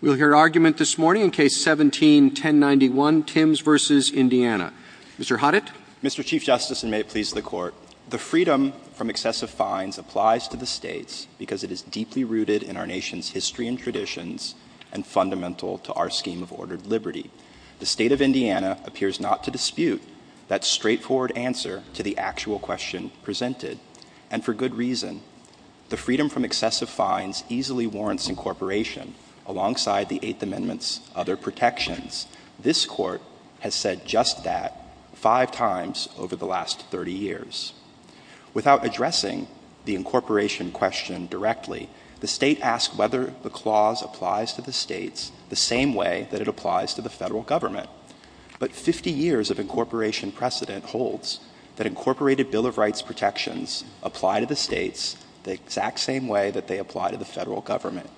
We'll hear argument this morning in Case 17-1091, Timbs v. Indiana. Mr. Hoddit? Mr. Chief Justice, and may it please the Court, the freedom from excessive fines applies to the States because it is deeply rooted in our nation's history and traditions and fundamental to our scheme of ordered liberty. The State of Indiana appears not to dispute that straightforward answer to the actual question presented. And for good reason. The freedom from excessive fines easily warrants incorporation, alongside the Eighth Amendment's other protections. This Court has said just that five times over the last 30 years. Without addressing the incorporation question directly, the State asks whether the clause applies to the States the same way that it applies to the federal government. But 50 years of incorporation precedent holds that incorporated Bill of Rights protections apply to the States the exact same way that they apply to the federal government.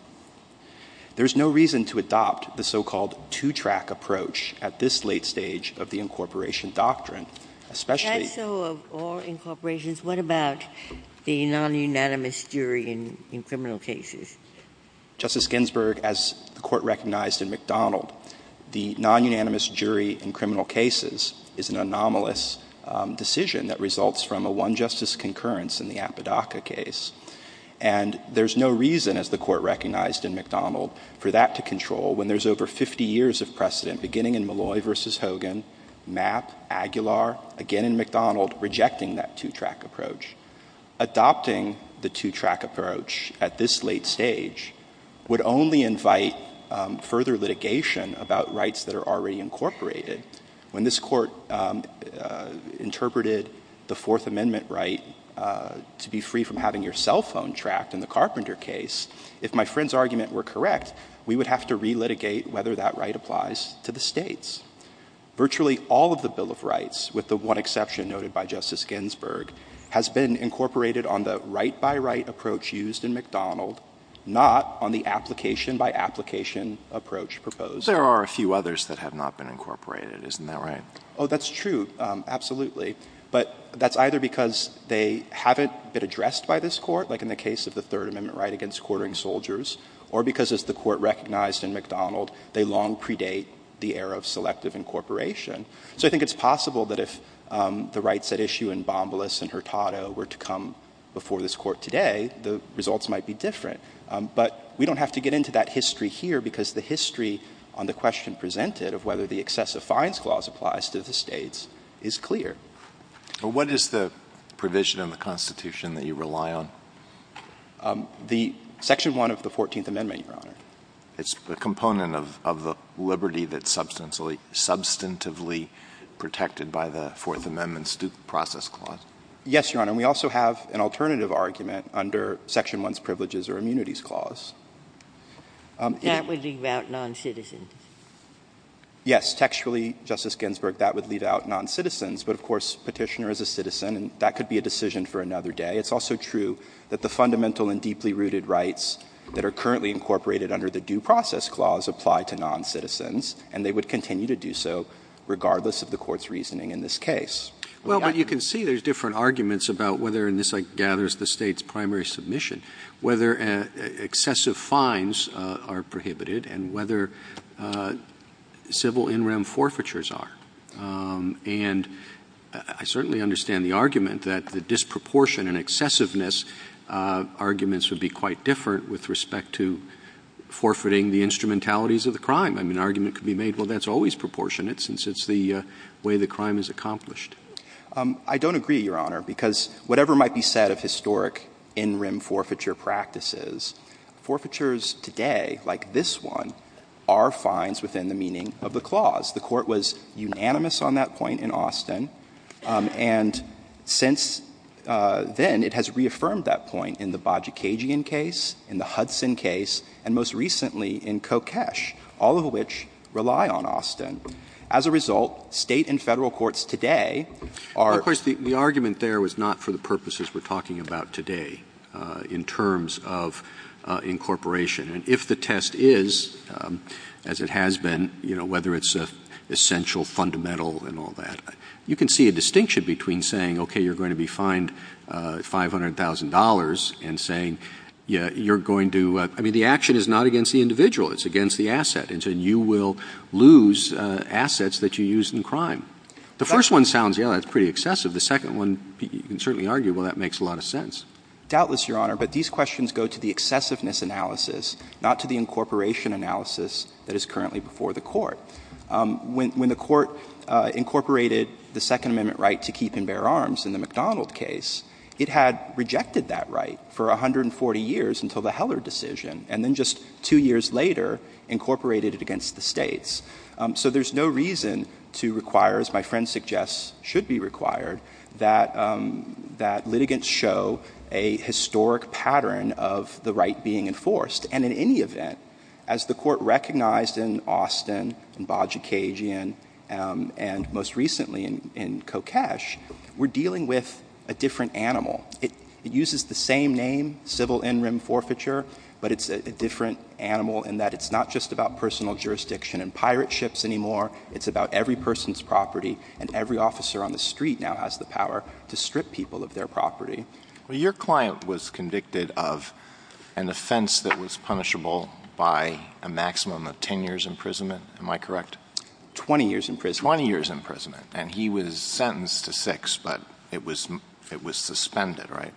There is no reason to adopt the so-called two-track approach at this late stage of the incorporation doctrine, especially— That's so of all incorporations. What about the non-unanimous jury in criminal cases? Justice Ginsburg, as the Court recognized in McDonald, the non-unanimous jury in criminal cases is an anomalous decision that results from a one-justice concurrence in the Apodaca case. And there's no reason, as the Court recognized in McDonald, for that to control when there's over 50 years of precedent, beginning in Malloy v. Hogan, Mapp, Aguilar, again in McDonald, rejecting that two-track approach. Adopting the two-track approach at this late stage would only invite further litigation about rights that are already incorporated. When this Court interpreted the Fourth Amendment right to be free from having your cell phone tracked in the Carpenter case, if my friend's argument were correct, we would have to relitigate whether that right applies to the States. Virtually all of the Bill of Rights, with the one exception noted by Justice Ginsburg, has been incorporated on the right-by-right approach used in McDonald, not on the application-by-application approach proposed. There are a few others that have not been incorporated. Isn't that right? Oh, that's true. Absolutely. But that's either because they haven't been addressed by this Court, like in the case of the Third Amendment right against quartering soldiers, or because, as the Court recognized in McDonald, they long predate the era of selective incorporation. So I think it's possible that if the rights at issue in Bombaless and Hurtado were to come before this Court today, the results might be different. But we don't have to get into that history here, because the history on the question presented of whether the excessive fines clause applies to the States is clear. But what is the provision in the Constitution that you rely on? The Section 1 of the Fourteenth Amendment, Your Honor. It's a component of the liberty that's substantively protected by the Fourth Amendment's due process clause. Yes, Your Honor. And we also have an alternative argument under Section 1's privileges or immunities clause. That would leave out noncitizens. Yes. Textually, Justice Ginsburg, that would leave out noncitizens. But, of course, Petitioner is a citizen, and that could be a decision for another day. It's also true that the fundamental and deeply rooted rights that are currently incorporated under the due process clause apply to noncitizens, and they would continue to do so regardless of the Court's reasoning in this case. Well, but you can see there's different arguments about whether, and this, like, gathers the State's primary submission, whether excessive fines are prohibited and whether civil in-rem forfeitures are. And I certainly understand the argument that the disproportion and excessiveness arguments would be quite different with respect to forfeiting the instrumentalities of the crime. I mean, an argument could be made, well, that's always proportionate since it's the way the crime is accomplished. I don't agree, Your Honor, because whatever might be said of historic in-rem forfeiture practices, forfeitures today, like this one, are fines within the meaning of the clause. The Court was unanimous on that point in Austin. And since then, it has reaffirmed that point in the Bajikagian case, in the Hudson case, and most recently in Kokesh, all of which rely on Austin. As a result, State and Federal courts today are. Roberts. Of course, the argument there was not for the purposes we're talking about today in terms of incorporation. And if the test is, as it has been, you know, whether it's essential, fundamental, and all that, you can see a distinction between saying, okay, you're going to be fined $500,000, and saying you're going to — I mean, the action is not against the individual. It's against the asset. And so you will lose assets that you use in crime. The first one sounds, yes, that's pretty excessive. The second one, you can certainly argue, well, that makes a lot of sense. Doubtless, Your Honor, but these questions go to the excessiveness analysis, not to the incorporation analysis that is currently before the Court. When the Court incorporated the Second Amendment right to keep and bear arms in the United States, it had rejected that right for 140 years until the Heller decision, and then just two years later incorporated it against the States. So there's no reason to require, as my friend suggests should be required, that litigants show a historic pattern of the right being enforced. And in any event, as the Court recognized in Austin, in Bajikasian, and most recently in Kokesh, we're dealing with a different animal. It uses the same name, civil in-rim forfeiture, but it's a different animal in that it's not just about personal jurisdiction and pirate ships anymore. It's about every person's property, and every officer on the street now has the power to strip people of their property. Well, your client was convicted of an offense that was punishable by a maximum of 10 years' imprisonment. Am I correct? 20 years' imprisonment. 20 years' imprisonment. And he was sentenced to six, but it was suspended, right?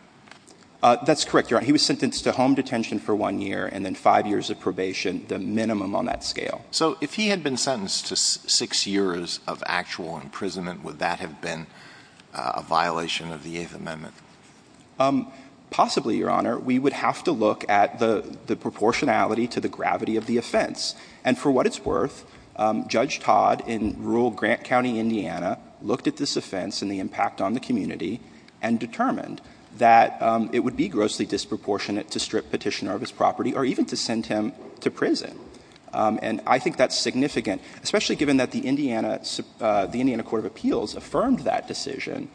That's correct, Your Honor. He was sentenced to home detention for one year and then five years of probation, the minimum on that scale. So if he had been sentenced to six years of actual imprisonment, would that have been a violation of the Eighth Amendment? Possibly, Your Honor. We would have to look at the proportionality to the gravity of the offense. And for what it's worth, Judge Todd in rural Grant County, Indiana, looked at this offense and the impact on the community and determined that it would be grossly disproportionate to strip Petitioner of his property or even to send him to prison. And I think that's significant, especially given that the Indiana Court of Appeals affirmed that decision,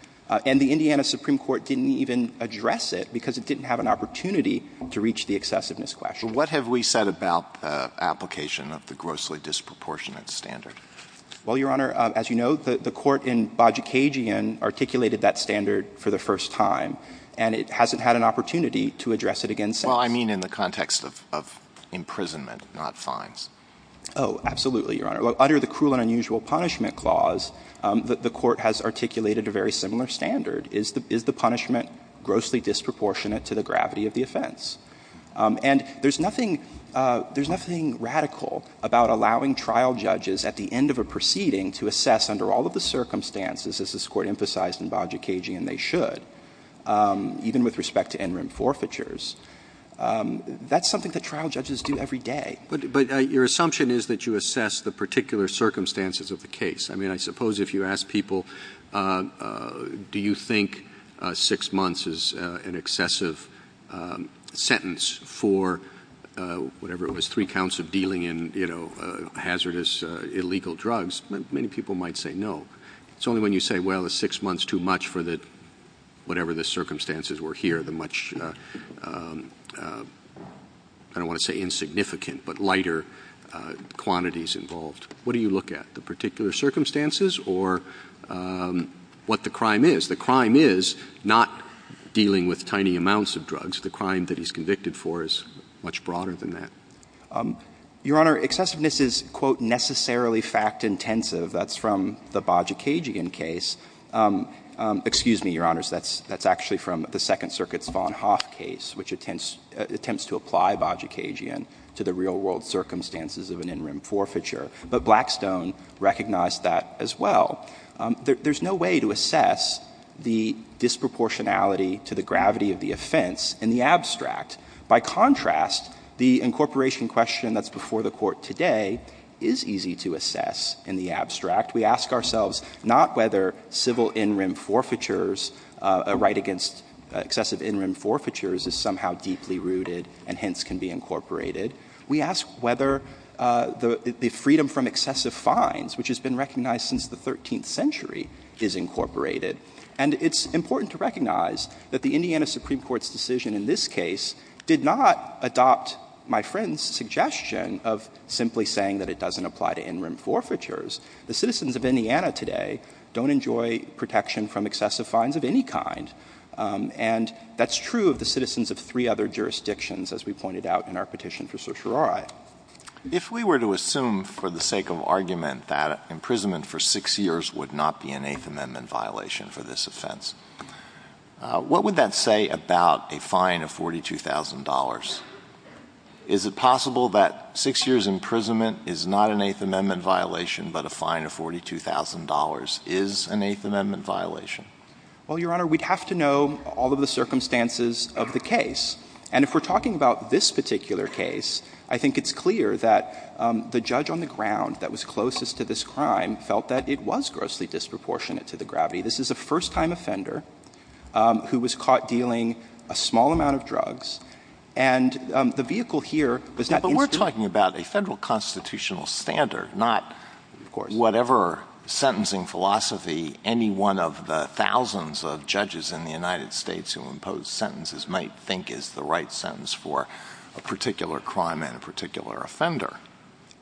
and the Indiana Supreme Court didn't even address it because it didn't have an opportunity to reach the excessiveness question. So what have we said about the application of the grossly disproportionate standard? Well, Your Honor, as you know, the court in Bajikagian articulated that standard for the first time, and it hasn't had an opportunity to address it again since. Well, I mean in the context of imprisonment, not fines. Oh, absolutely, Your Honor. Under the Cruel and Unusual Punishment Clause, the court has articulated a very similar Is the punishment grossly disproportionate to the gravity of the offense? And there's nothing radical about allowing trial judges at the end of a proceeding to assess under all of the circumstances, as this Court emphasized in Bajikagian they should, even with respect to interim forfeitures. That's something that trial judges do every day. But your assumption is that you assess the particular circumstances of the case. I mean, I suppose if you ask people, do you think six months is an excessive sentence for whatever it was, three counts of dealing in hazardous, illegal drugs, many people might say no. It's only when you say, well, is six months too much for whatever the circumstances were here, the much, I don't want to say insignificant, but lighter quantities involved. What do you look at? The particular circumstances or what the crime is? The crime is not dealing with tiny amounts of drugs. The crime that he's convicted for is much broader than that. Your Honor, excessiveness is, quote, necessarily fact-intensive. That's from the Bajikagian case. Excuse me, Your Honors, that's actually from the Second Circuit's von Hoff case, which attempts to apply Bajikagian to the real-world circumstances of an interim forfeiture. But Blackstone recognized that as well. There's no way to assess the disproportionality to the gravity of the offense in the abstract. By contrast, the incorporation question that's before the Court today is easy to assess in the abstract. We ask ourselves not whether civil interim forfeitures, a right against excessive interim forfeitures is somehow deeply rooted and hence can be incorporated. We ask whether the freedom from excessive fines, which has been recognized since the 13th century, is incorporated. And it's important to recognize that the Indiana Supreme Court's decision in this case did not adopt my friend's suggestion of simply saying that it doesn't apply to interim forfeitures. The citizens of Indiana today don't enjoy protection from excessive fines of any kind. And that's true of the citizens of three other jurisdictions, as we pointed out in our petition for certiorari. If we were to assume for the sake of argument that imprisonment for six years would not be an Eighth Amendment violation for this offense, what would that say about a fine of $42,000? Is it possible that six years' imprisonment is not an Eighth Amendment violation but a fine of $42,000? Is an Eighth Amendment violation? Well, Your Honor, we'd have to know all of the circumstances of the case. And if we're talking about this particular case, I think it's clear that the judge on the ground that was closest to this crime felt that it was grossly disproportionate to the gravity. This is a first-time offender who was caught dealing a small amount of drugs. And the vehicle here was that instrument. But we're talking about a Federal constitutional standard, not whatever sentencing philosophy any one of the thousands of judges in the United States who impose sentences might think is the right sentence for a particular crime and a particular offender.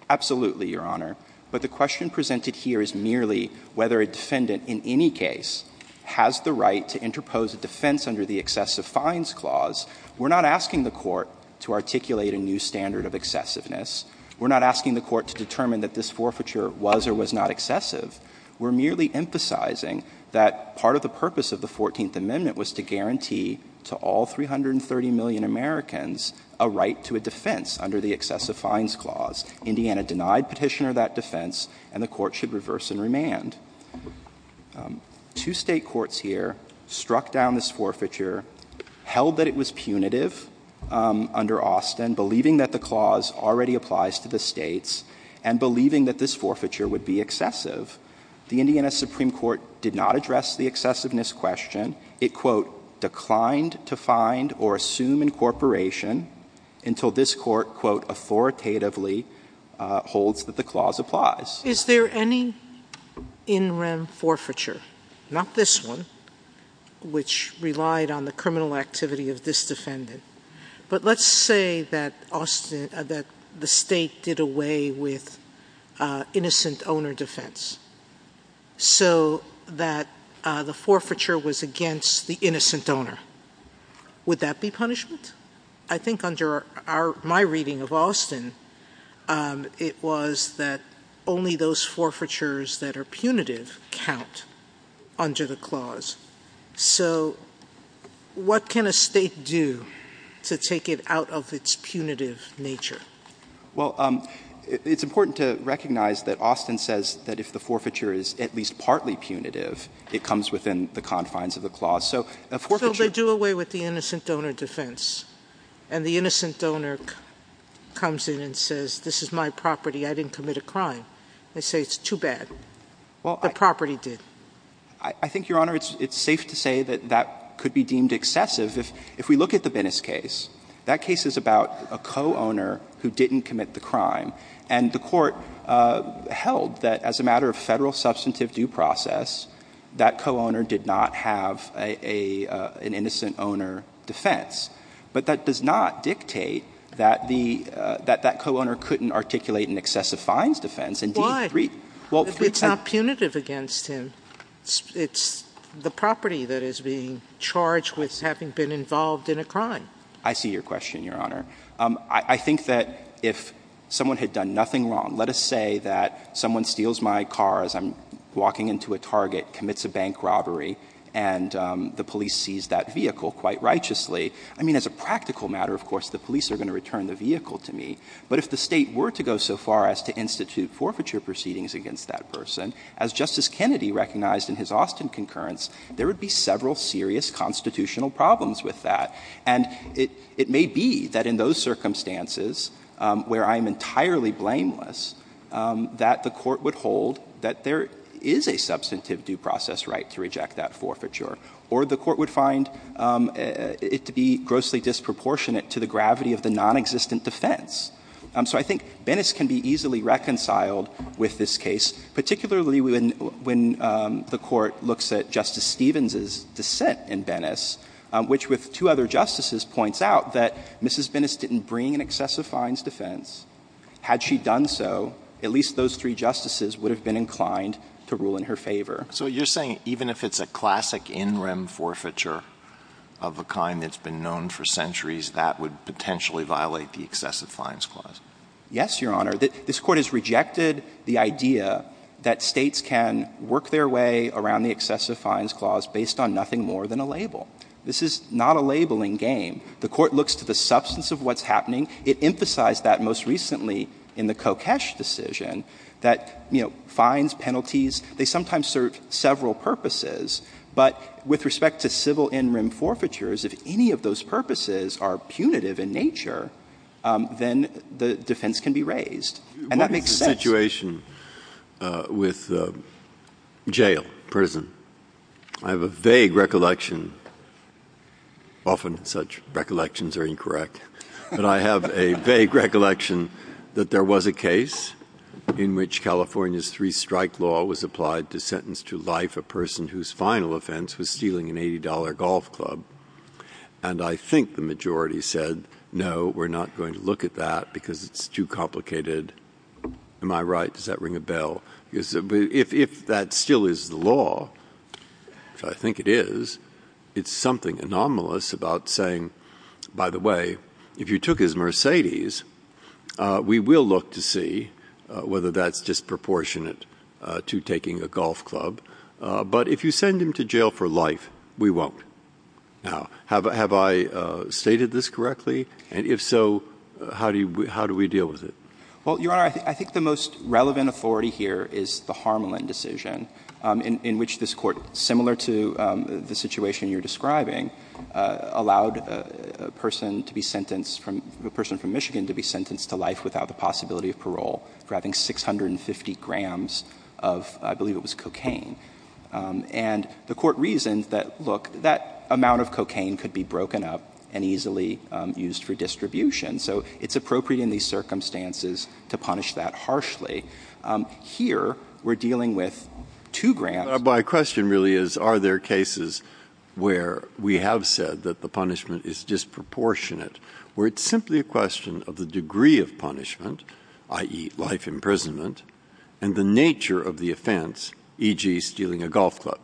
Absolutely, Your Honor. But the question presented here is merely whether a defendant in any case has the right to interpose a defense under the excessive fines clause. We're not asking the Court to articulate a new standard of excessiveness. We're not asking the Court to determine that this forfeiture was or was not excessive. We're merely emphasizing that part of the purpose of the Fourteenth Amendment was to guarantee to all 330 million Americans a right to a defense under the excessive fines clause. Indiana denied Petitioner that defense, and the Court should reverse and remand. Two State courts here struck down this forfeiture, held that it was punitive under Austin, believing that the clause already applies to the States, and believing that this forfeiture would be excessive. The Indiana Supreme Court did not address the excessiveness question. It, quote, declined to find or assume incorporation until this Court, quote, authoritatively holds that the clause applies. Is there any in-rem forfeiture, not this one, which relied on the criminal activity of this defendant, but let's say that the State did away with innocent owner defense so that the forfeiture was against the innocent owner? Would that be punishment? I think under my reading of Austin, it was that only those forfeitures that are punitive count under the clause. So what can a State do to take it out of its punitive nature? Well, it's important to recognize that Austin says that if the forfeiture is at least partly punitive, it comes within the confines of the clause. So a forfeiture So they do away with the innocent donor defense, and the innocent donor comes in and says, this is my property. I didn't commit a crime. They say it's too bad. The property did. I think, Your Honor, it's safe to say that that could be deemed excessive. If we look at the Bennis case, that case is about a co-owner who didn't commit the crime, and the Court held that as a matter of Federal substantive due process, that co-owner did not have an innocent owner defense. But that does not dictate that the co-owner couldn't articulate an excessive fines defense. Indeed, three times. Why? If it's not punitive against him, it's the property that is being charged with having been involved in a crime. I see your question, Your Honor. I think that if someone had done nothing wrong, let us say that someone steals my car as I'm walking into a Target, commits a bank robbery, and the police seize that vehicle quite righteously. I mean, as a practical matter, of course, the police are going to return the vehicle to me. But if the State were to go so far as to institute forfeiture proceedings against that person, as Justice Kennedy recognized in his Austin concurrence, there would be several serious constitutional problems with that. And it may be that in those circumstances, where I'm entirely blameless, that the Court would hold that there is a substantive due process right to reject that forfeiture, or the Court would find it to be grossly disproportionate to the gravity of the nonexistent defense. So I think Bennis can be easily reconciled with this case, particularly when the Justice Stevens' dissent in Bennis, which, with two other Justices, points out that Mrs. Bennis didn't bring an excessive fines defense. Had she done so, at least those three Justices would have been inclined to rule in her favor. So you're saying even if it's a classic in rem forfeiture of a kind that's been known for centuries, that would potentially violate the excessive fines clause? Yes, Your Honor. This Court has rejected the idea that States can work their way around the excessive fines clause based on nothing more than a label. This is not a labeling game. The Court looks to the substance of what's happening. It emphasized that most recently in the Kokesh decision, that, you know, fines, penalties, they sometimes serve several purposes. But with respect to civil in rem forfeitures, if any of those purposes are punitive in nature, then the defense can be raised. And that makes sense. What is the situation with jail, prison? I have a vague recollection. Often such recollections are incorrect. But I have a vague recollection that there was a case in which California's three-strike law was applied to sentence to life a person whose final offense was stealing an $80 golf club. And I think the majority said, no, we're not going to look at that because it's too complicated. Am I right? Does that ring a bell? If that still is the law, which I think it is, it's something anomalous about saying, by the way, if you took his Mercedes, we will look to see whether that's disproportionate to taking a golf club. But if you send him to jail for life, we won't. Now, have I stated this correctly? And if so, how do we deal with it? Well, Your Honor, I think the most relevant authority here is the Harmelin decision in which this Court, similar to the situation you're describing, allowed a person to be sentenced, a person from Michigan to be sentenced to life without the possibility of parole for having 650 grams of, I believe it was cocaine. And the Court reasoned that, look, that amount of cocaine could be broken up and easily used for distribution. So it's appropriate in these circumstances to punish that harshly. Here, we're dealing with two grams. My question really is, are there cases where we have said that the punishment is disproportionate, where it's simply a question of the degree of punishment, i.e., life imprisonment, and the nature of the offense, e.g., stealing a golf club?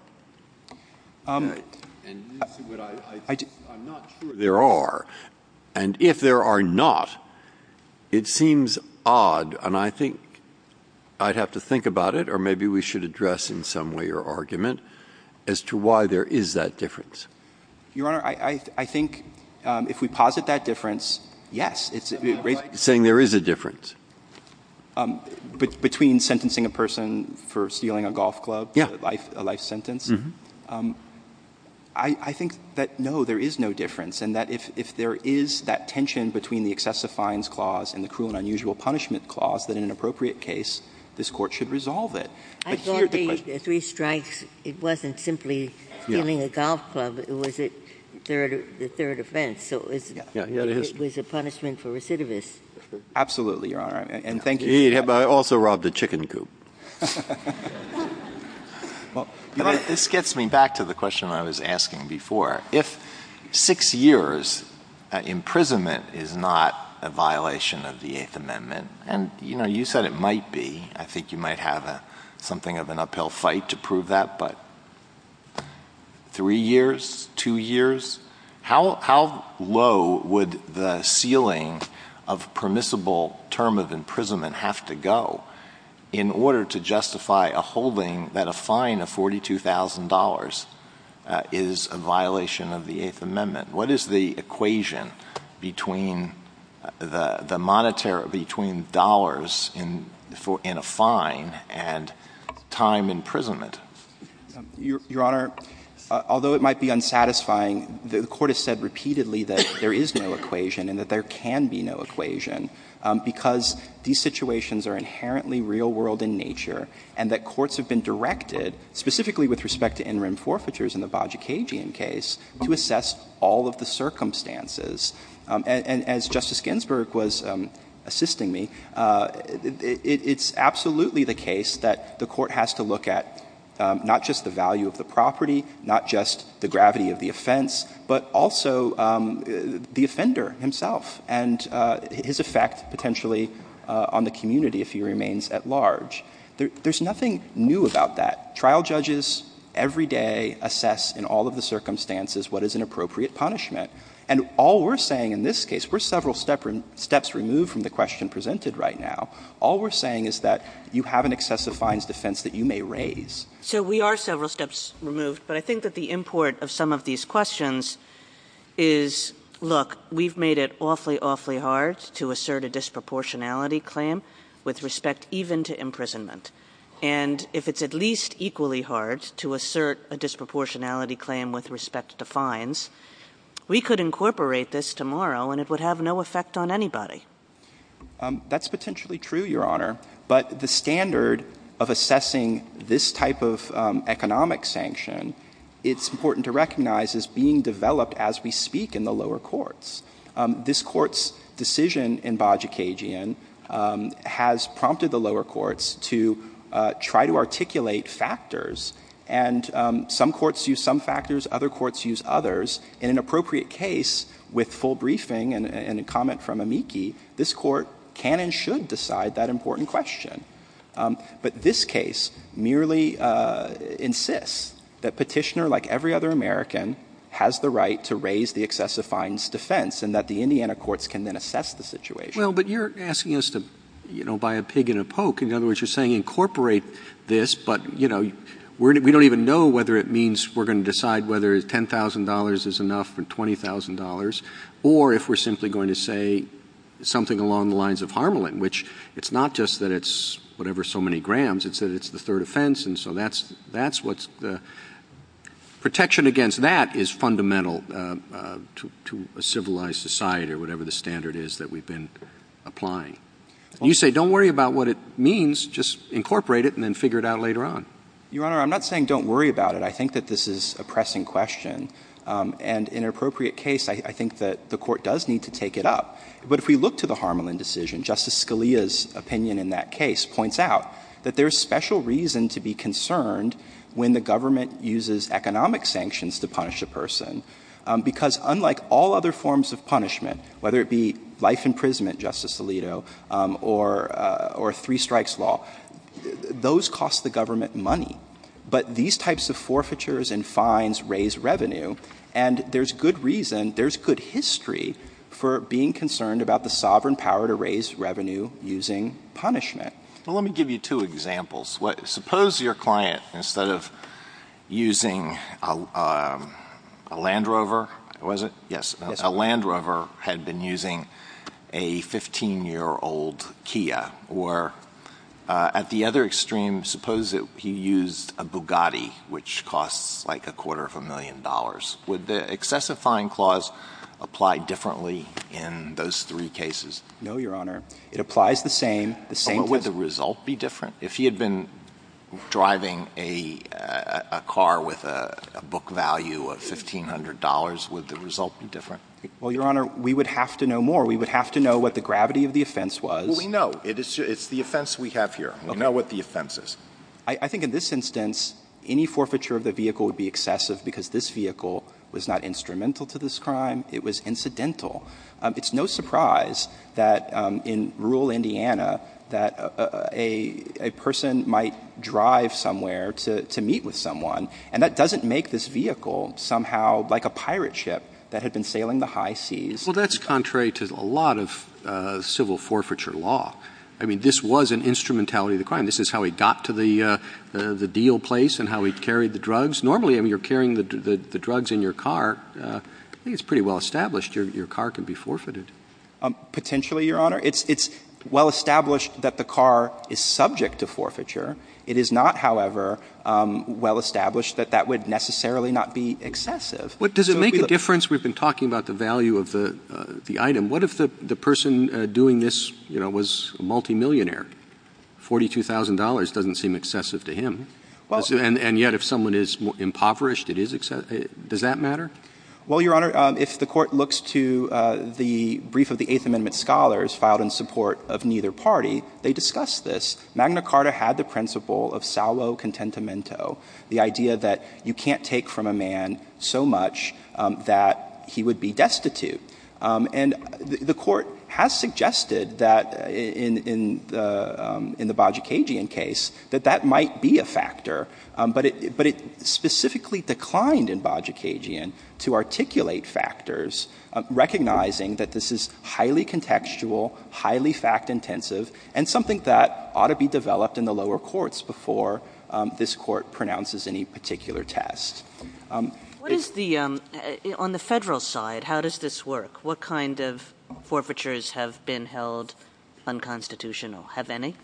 I'm not sure there are. And if there are not, it seems odd. And I think I'd have to think about it, or maybe we should address in some way your argument as to why there is that difference. Your Honor, I think if we posit that difference, yes. Saying there is a difference. Between sentencing a person for stealing a golf club, a life sentence, I think that, no, there is no difference, and that if there is that tension between the excessive fines clause and the cruel and unusual punishment clause, that in an appropriate case, this Court should resolve it. I thought the three strikes, it wasn't simply stealing a golf club. It was the third offense. So it was a punishment for recidivists. Absolutely, Your Honor, and thank you. He also robbed a chicken coop. This gets me back to the question I was asking before. If six years imprisonment is not a violation of the Eighth Amendment, and you said it might be, I think you might have something of an uphill fight to prove that, three years, two years? How low would the ceiling of permissible term of imprisonment have to go in order to justify a holding that a fine of $42,000 is a violation of the Eighth Amendment? What is the equation between the monetary, between dollars in a fine and time imprisonment? Your Honor, although it might be unsatisfying, the Court has said repeatedly that there is no equation and that there can be no equation, because these situations are inherently real world in nature, and that courts have been directed, specifically with respect to interim forfeitures in the Bajikagian case, to assess all of the circumstances. And as Justice Ginsburg was assisting me, it's absolutely the case that the Court has to look at not just the value of the property, not just the gravity of the offense, but also the offender himself and his effect potentially on the community if he remains at large. There's nothing new about that. Trial judges every day assess in all of the circumstances what is an appropriate punishment, and all we're saying in this case, we're several steps removed from the question presented right now, all we're saying is that you have an excessive fines defense that you may raise. Kagan. So we are several steps removed, but I think that the import of some of these questions is, look, we've made it awfully, awfully hard to assert a disproportionality claim with respect even to imprisonment. And if it's at least equally hard to assert a disproportionality claim with respect to fines, we could incorporate this tomorrow, and it would have no effect on anybody. That's potentially true, Your Honor. But the standard of assessing this type of economic sanction, it's important to recognize is being developed as we speak in the lower courts. This Court's decision in Bajikagian has prompted the lower courts to try to articulate factors, and some courts use some factors, other courts use others. In an appropriate case, with full briefing and a comment from Amiki, this Court can and should decide that important question. But this case merely insists that Petitioner, like every other American, has the right to raise the excessive fines defense and that the Indiana courts can then assess the situation. Well, but you're asking us to, you know, buy a pig and a poke. In other words, you're saying incorporate this, but, you know, we don't even know whether it means we're going to decide whether $10,000 is enough or $20,000, or if we're simply going to say something along the lines of Harmelin, which it's not just that it's whatever so many grams, it's that it's the third offense, and so that's what's the protection against that is fundamental to a civilized society or whatever the standard is that we've been applying. You say don't worry about what it means, just incorporate it and then figure it out later on. Your Honor, I'm not saying don't worry about it. I think that this is a pressing question. And in an appropriate case, I think that the Court does need to take it up. But if we look to the Harmelin decision, Justice Scalia's opinion in that case points out that there's special reason to be concerned when the government uses economic sanctions to punish a person, because unlike all other forms of punishment, whether it be life imprisonment, Justice Alito, or three strikes law, those cost the government money. But these types of forfeitures and fines raise revenue, and there's good reason, there's good history for being concerned about the sovereign power to raise revenue using punishment. Well, let me give you two examples. Suppose your client, instead of using a Land Rover, was it? Yes. A Land Rover had been using a 15-year-old Kia. Or at the other extreme, suppose he used a Bugatti, which costs like a quarter of a million dollars. Would the excessive fine clause apply differently in those three cases? No, Your Honor. It applies the same. The same test. But would the result be different? If he had been driving a car with a book value of $1,500, would the result be different? Well, Your Honor, we would have to know more. We would have to know what the gravity of the offense was. Well, we know. It's the offense we have here. Okay. We know what the offense is. I think in this instance, any forfeiture of the vehicle would be excessive because this vehicle was not instrumental to this crime. It was incidental. It's no surprise that in rural Indiana that a person might drive somewhere to meet with someone, and that doesn't make this vehicle somehow like a pirate ship that had been sailing the high seas. Well, that's contrary to a lot of civil forfeiture law. I mean, this was an instrumentality of the crime. This is how he got to the deal place and how he carried the drugs. Normally, I mean, you're carrying the drugs in your car. I think it's pretty well established. Your car can be forfeited. Potentially, Your Honor. It's well established that the car is subject to forfeiture. It is not, however, well established that that would necessarily not be excessive. But does it make a difference? We've been talking about the value of the item. What if the person doing this, you know, was a multimillionaire? $42,000 doesn't seem excessive to him. And yet if someone is impoverished, it is excessive. Does that matter? Well, Your Honor, if the Court looks to the brief of the Eighth Amendment scholars filed in support of neither party, they discuss this. Magna Carta had the principle of salvo contentimento, the idea that you can't take from a man so much that he would be destitute. And the Court has suggested that in the Bajicagian case that that might be a factor. But it specifically declined in Bajicagian to articulate factors, recognizing that this is highly contextual, highly fact-intensive, and something that ought to be developed in the lower courts before this Court pronounces any particular test. What is the — on the Federal side, how does this work? What kind of forfeitures have been held unconstitutional? Have any?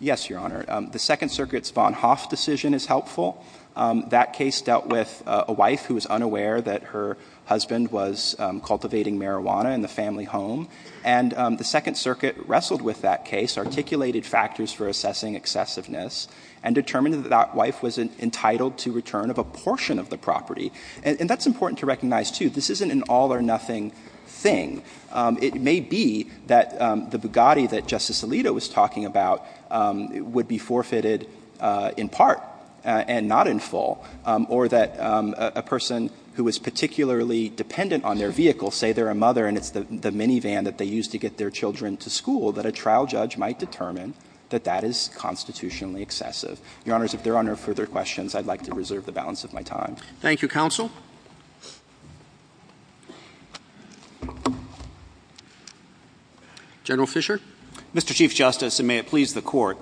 Yes, Your Honor. The Second Circuit's von Hoff decision is helpful. That case dealt with a wife who was unaware that her husband was cultivating marijuana in the family home. And the Second Circuit wrestled with that case, articulated factors for assessing excessiveness, and determined that that wife was entitled to return of a portion of the property. And that's important to recognize, too. This isn't an all-or-nothing thing. It may be that the Bugatti that Justice Alito was talking about would be forfeited in part and not in full, or that a person who is particularly dependent on their vehicle, say they're a mother and it's the minivan that they use to get their children to school, that a trial judge might determine that that is constitutionally excessive. Your Honors, if there are no further questions, I'd like to reserve the balance of my time. Thank you, Counsel. General Fischer. Mr. Chief Justice, and may it please the Court,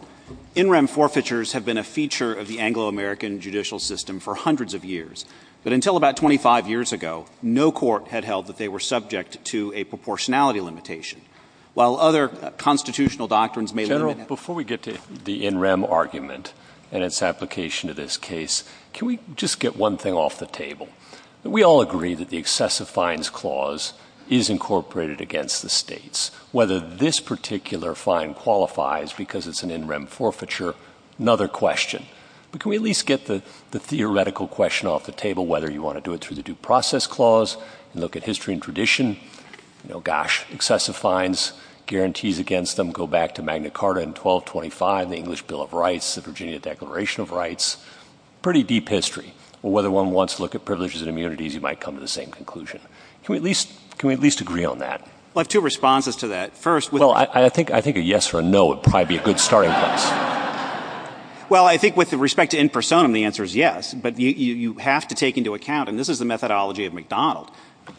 in rem forfeitures have been a feature of the Anglo-American judicial system for hundreds of years. But until about 25 years ago, no court had held that they were subject to a proportionality limitation, while other constitutional doctrines may limit it. General, before we get to the in rem argument and its application to this case, can we just get one thing off the table? We all agree that the excessive fines clause is incorporated against the states. Whether this particular fine qualifies because it's an in rem forfeiture, another question. But can we at least get the theoretical question off the table, whether you want to do it through the due process clause and look at history and tradition? You know, gosh, excessive fines, guarantees against them go back to Magna Carta pretty deep history. Or whether one wants to look at privileges and immunities, you might come to the same conclusion. Can we at least agree on that? Well, I have two responses to that. First, with the— Well, I think a yes or a no would probably be a good starting place. Well, I think with respect to in personam, the answer is yes. But you have to take into account, and this is the methodology of McDonald,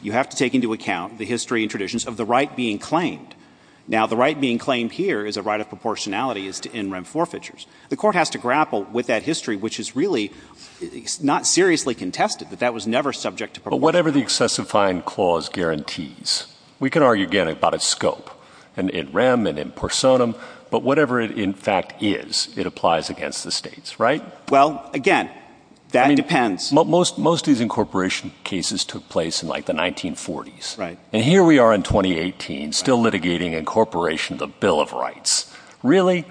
you have to take into account the history and traditions of the right being claimed. Now, the right being claimed here is a right of proportionality as to in rem forfeitures. The court has to grapple with that history, which is really not seriously contested, that that was never subject to proportionality. But whatever the excessive fine clause guarantees, we can argue again about its scope, in rem and in personam, but whatever it in fact is, it applies against the states, right? Well, again, that depends. Most of these incorporation cases took place in like the 1940s. Right. And here we are in 2018, still litigating incorporation of the Bill of Rights. Really?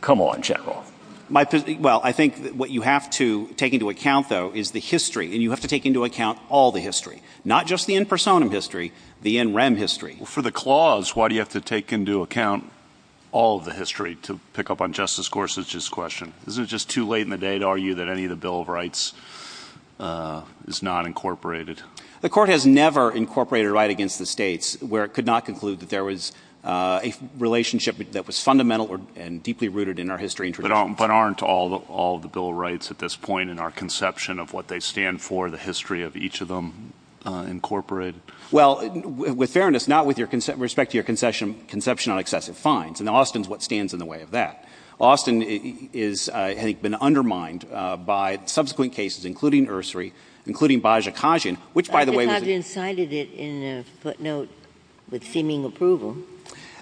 Come on, General. Well, I think what you have to take into account, though, is the history. And you have to take into account all the history, not just the in personam history, the in rem history. For the clause, why do you have to take into account all of the history, to pick up on Justice Gorsuch's question? Isn't it just too late in the day to argue that any of the Bill of Rights is not incorporated? The court has never incorporated a right against the states where it could not conclude that there was a relationship that was fundamental and deeply rooted in our history and tradition. But aren't all of the Bill of Rights at this point in our conception of what they stand for, the history of each of them incorporated? Well, with fairness, not with respect to your conception on excessive fines. And Austin is what stands in the way of that. Austin has been undermined by subsequent cases, including Ursary, including Baja Khajian, which by the way was in a footnote with seeming approval.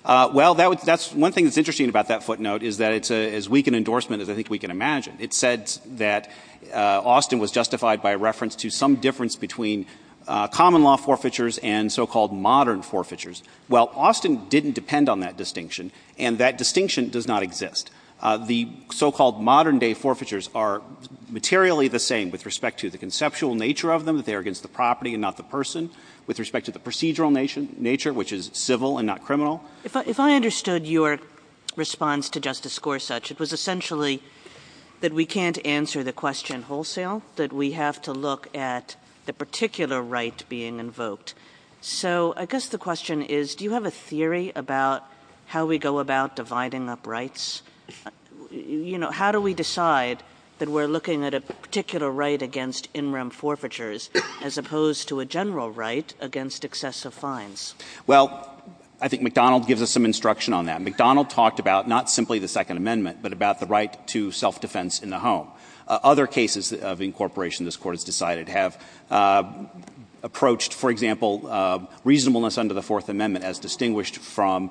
Well, that's one thing that's interesting about that footnote, is that it's as weak an endorsement as I think we can imagine. It said that Austin was justified by reference to some difference between common law forfeitures and so-called modern forfeitures. Well, Austin didn't depend on that distinction, and that distinction does not exist. The so-called modern day forfeitures are materially the same with respect to the conceptual nature of them, that they are against the property and not the person, with respect to the procedural nature, which is civil and not criminal. If I understood your response to Justice Gorsuch, it was essentially that we can't answer the question wholesale, that we have to look at the particular right being invoked. So I guess the question is, do you have a theory about how we go about dividing up rights? You know, how do we decide that we're looking at a particular right against in-room forfeitures as opposed to a general right against excessive fines? Well, I think McDonald gives us some instruction on that. McDonald talked about not simply the Second Amendment, but about the right to self-defense in the home. Other cases of incorporation this Court has decided have approached, for example, reasonableness under the Fourth Amendment as distinguished from,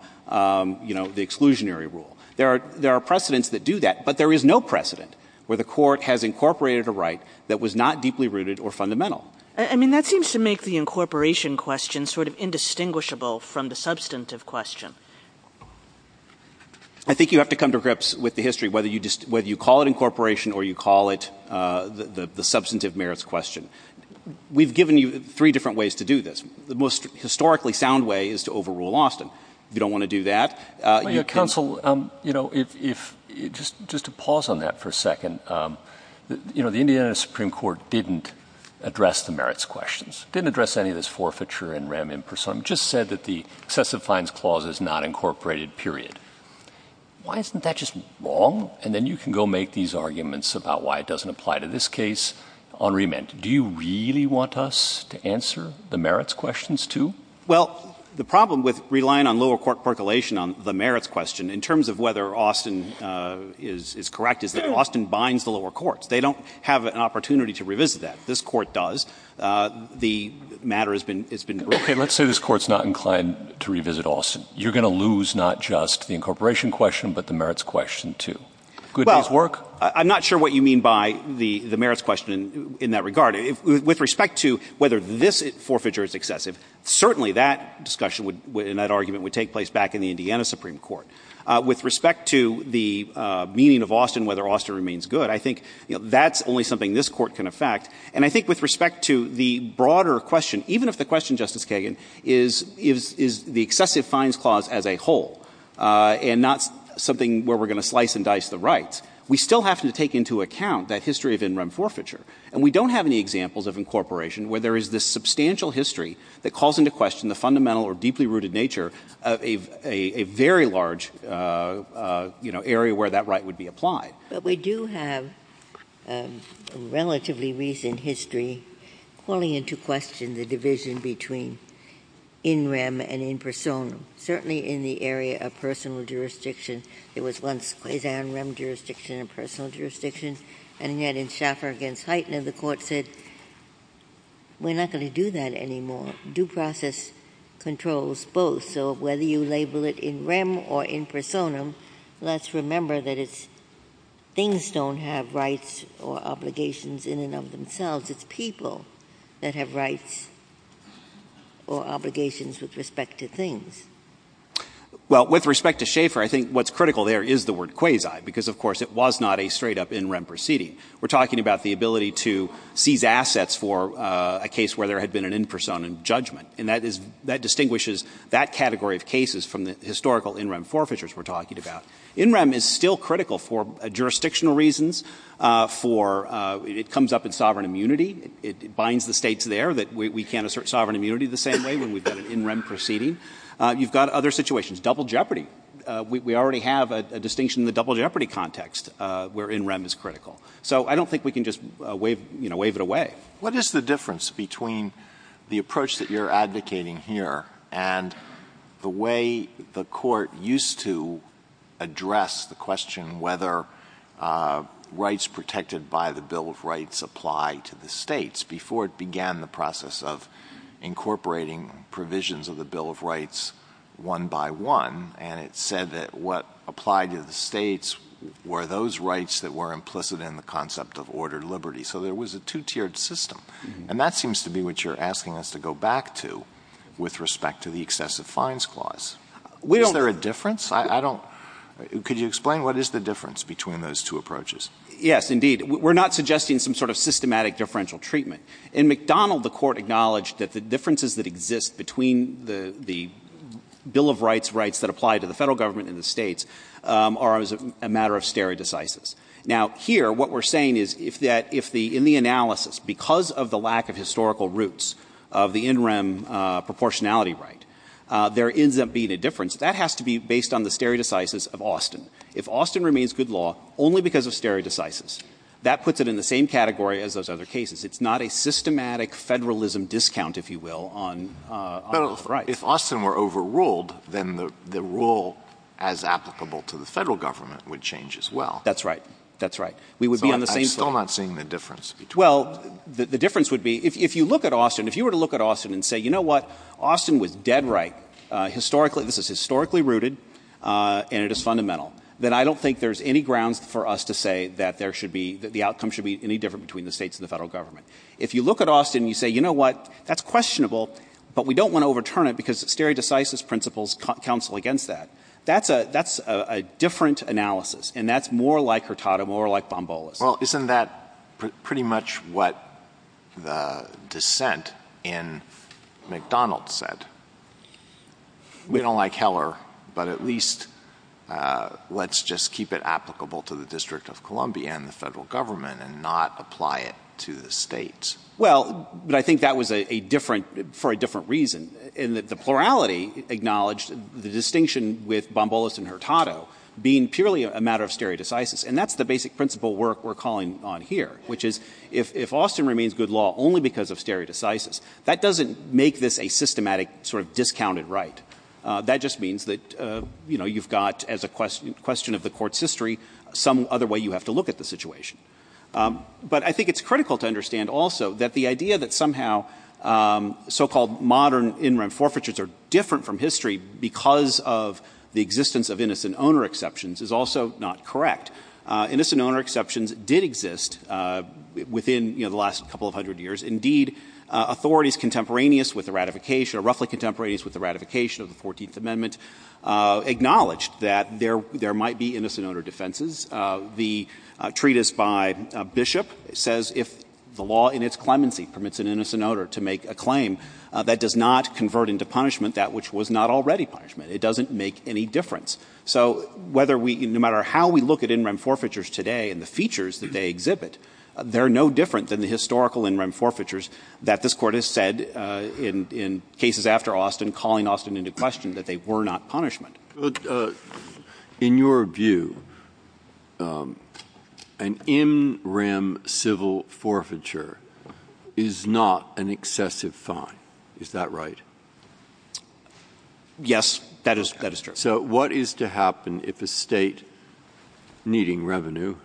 you know, the exclusionary rule. There are precedents that do that, but there is no precedent where the Court has incorporated a right that was not deeply rooted or fundamental. I mean, that seems to make the incorporation question sort of indistinguishable from the substantive question. I think you have to come to grips with the history, whether you call it incorporation or you call it the substantive merits question. We've given you three different ways to do this. The most historically sound way is to overrule Austin. You don't want to do that. Counsel, you know, if — just to pause on that for a second, you know, the Indiana Supreme Court didn't address the merits questions, didn't address any of this forfeiture and rem impersonum, just said that the excessive fines clause is not incorporated, period. Why isn't that just wrong? And then you can go make these arguments about why it doesn't apply to this case on remand. Do you really want us to answer the merits questions, too? Well, the problem with relying on lower court percolation on the merits question, in terms of whether Austin is correct, is that Austin binds the lower courts. They don't have an opportunity to revisit that. This Court does. The matter has been — Okay. Let's say this Court is not inclined to revisit Austin. You're going to lose not just the incorporation question, but the merits question, too. Could these work? Well, I'm not sure what you mean by the merits question in that regard. With respect to whether this forfeiture is excessive, certainly that discussion and that argument would take place back in the Indiana Supreme Court. With respect to the meaning of Austin, whether Austin remains good, I think that's only something this Court can affect. And I think with respect to the broader question, even if the question, Justice Kagan, is the excessive fines clause as a whole and not something where we're going to slice and dice the rights, we still have to take into account that history of in rem forfeiture. And we don't have any examples of incorporation where there is this substantial history that calls into question the fundamental or deeply rooted nature of a very large, you know, area where that right would be applied. But we do have a relatively recent history calling into question the division between in rem and in persona, certainly in the area of personal jurisdiction. It was once quasi-in rem jurisdiction and personal jurisdiction. And yet in Schaffer v. Heitner, the Court said, we're not going to do that anymore. Due process controls both. So whether you label it in rem or in persona, let's remember that it's things don't have rights or obligations in and of themselves. It's people that have rights or obligations with respect to things. Well, with respect to Schaffer, I think what's critical there is the word in rem proceeding. We're talking about the ability to seize assets for a case where there had been an in persona judgment. And that distinguishes that category of cases from the historical in rem forfeitures we're talking about. In rem is still critical for jurisdictional reasons, for it comes up in sovereign immunity. It binds the states there that we can't assert sovereign immunity the same way when we've got an in rem proceeding. You've got other situations. Double jeopardy. We already have a distinction in the double jeopardy context where in rem is critical. So I don't think we can just wave it away. What is the difference between the approach that you're advocating here and the way the Court used to address the question whether rights protected by the Bill of Rights apply to the states before it began the process of incorporating provisions of the Bill of Rights one by one, and it said that what applied to the states were those rights that were implicit in the concept of ordered liberty. So there was a two-tiered system. And that seems to be what you're asking us to go back to with respect to the excessive fines clause. Is there a difference? I don't — could you explain what is the difference between those two approaches? Yes, indeed. We're not suggesting some sort of systematic differential treatment. In McDonald, the Court acknowledged that the differences that exist between the Bill of Rights rights that apply to the Federal Government and the states are as a matter of stereodicysis. Now, here, what we're saying is if that — if the — in the analysis, because of the lack of historical roots of the in rem proportionality right, there ends up being a difference. That has to be based on the stereodicysis of Austin. If Austin remains good law only because of stereodicysis, that puts it in the same category as those other cases. It's not a systematic federalism discount, if you will, on the right. But if Austin were overruled, then the rule as applicable to the Federal Government would change as well. That's right. That's right. We would be on the same — So I'm still not seeing the difference between those. Well, the difference would be, if you look at Austin, if you were to look at Austin and say, you know what, Austin was dead right, historically — this is historically rooted and it is fundamental, then I don't think there's any grounds for us to say that there should be — that the outcome should be any different between the states and the Federal Government. If you look at Austin and you say, you know what, that's questionable, but we don't want to overturn it because stereodicysis principles counsel against that. That's a — that's a different analysis, and that's more like Hurtado, more like Bombolas. Well, isn't that pretty much what the dissent in McDonald's said? We don't like Heller, but at least let's just keep it applicable to the District of Columbia and the Federal Government and not apply it to the states. Well, but I think that was a different — for a different reason, in that the plurality acknowledged the distinction with Bombolas and Hurtado being purely a matter of stereodicysis, and that's the basic principle work we're calling on here, which is, if Austin remains good law only because of stereodicysis, that doesn't make this a systematic sort of discounted right. That just means that, you know, you've got, as a question of the Court's history, some other way you have to look at the situation. But I think it's critical to understand also that the idea that somehow so-called modern in-rem forfeitures are different from history because of the existence of innocent owner exceptions is also not correct. Innocent owner exceptions did exist within, you know, the last couple of hundred years. Indeed, authorities contemporaneous with the ratification — or roughly contemporaneous with the ratification of the Fourteenth Amendment acknowledged that there might be innocent owner defenses. The treatise by Bishop says if the law in its clemency permits an innocent owner to make a claim, that does not convert into punishment that which was not already punishment. It doesn't make any difference. So whether we — no matter how we look at in-rem forfeitures today and the features that they exhibit, they're no different than the historical in-rem forfeitures that this Court has said in cases after Austin, calling Austin into question, that they were not punishment. In your view, an in-rem civil forfeiture is not an excessive fine. Is that right? Yes, that is — that is true. So what is to happen if a state needing revenue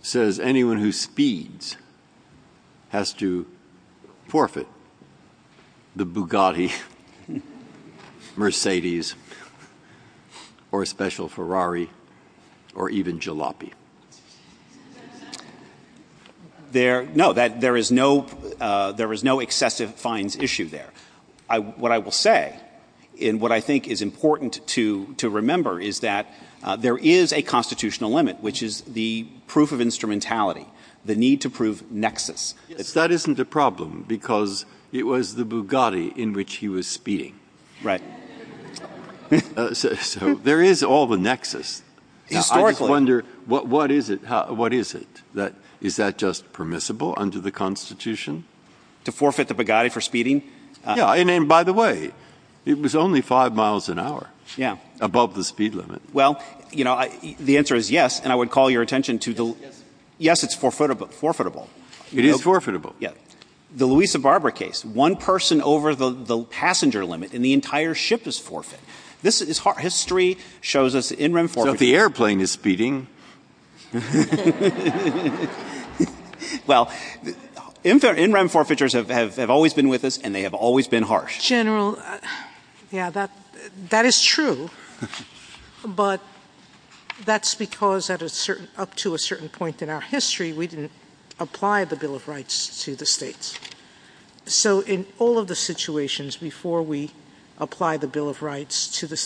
says anyone who speeds has to or a special Ferrari or even jalopy? There — no, that — there is no — there is no excessive fines issue there. What I will say, and what I think is important to remember, is that there is a constitutional limit, which is the proof of instrumentality, the need to prove nexus. Yes, that isn't a problem because it was the Bugatti in which he was speeding. Right. So there is all the nexus. I just wonder, what is it? What is it? Is that just permissible under the Constitution? To forfeit the Bugatti for speeding? Yeah. And by the way, it was only five miles an hour. Yeah. Above the speed limit. Well, you know, the answer is yes, and I would call your attention to the — Yes. Yes, it's forfeitable. It is forfeitable. Yeah. The Louisa Barber case. One person over the passenger limit, and the entire ship is forfeit. This is — history shows us in-rim forfeitors — So if the airplane is speeding — Well, in-rim forfeitors have always been with us, and they have always been harsh. General, yeah, that is true. But that's because at a certain — up to a certain point in our history, we didn't apply the Bill of Rights to the states. So in all of the situations before we applied the Bill of Rights to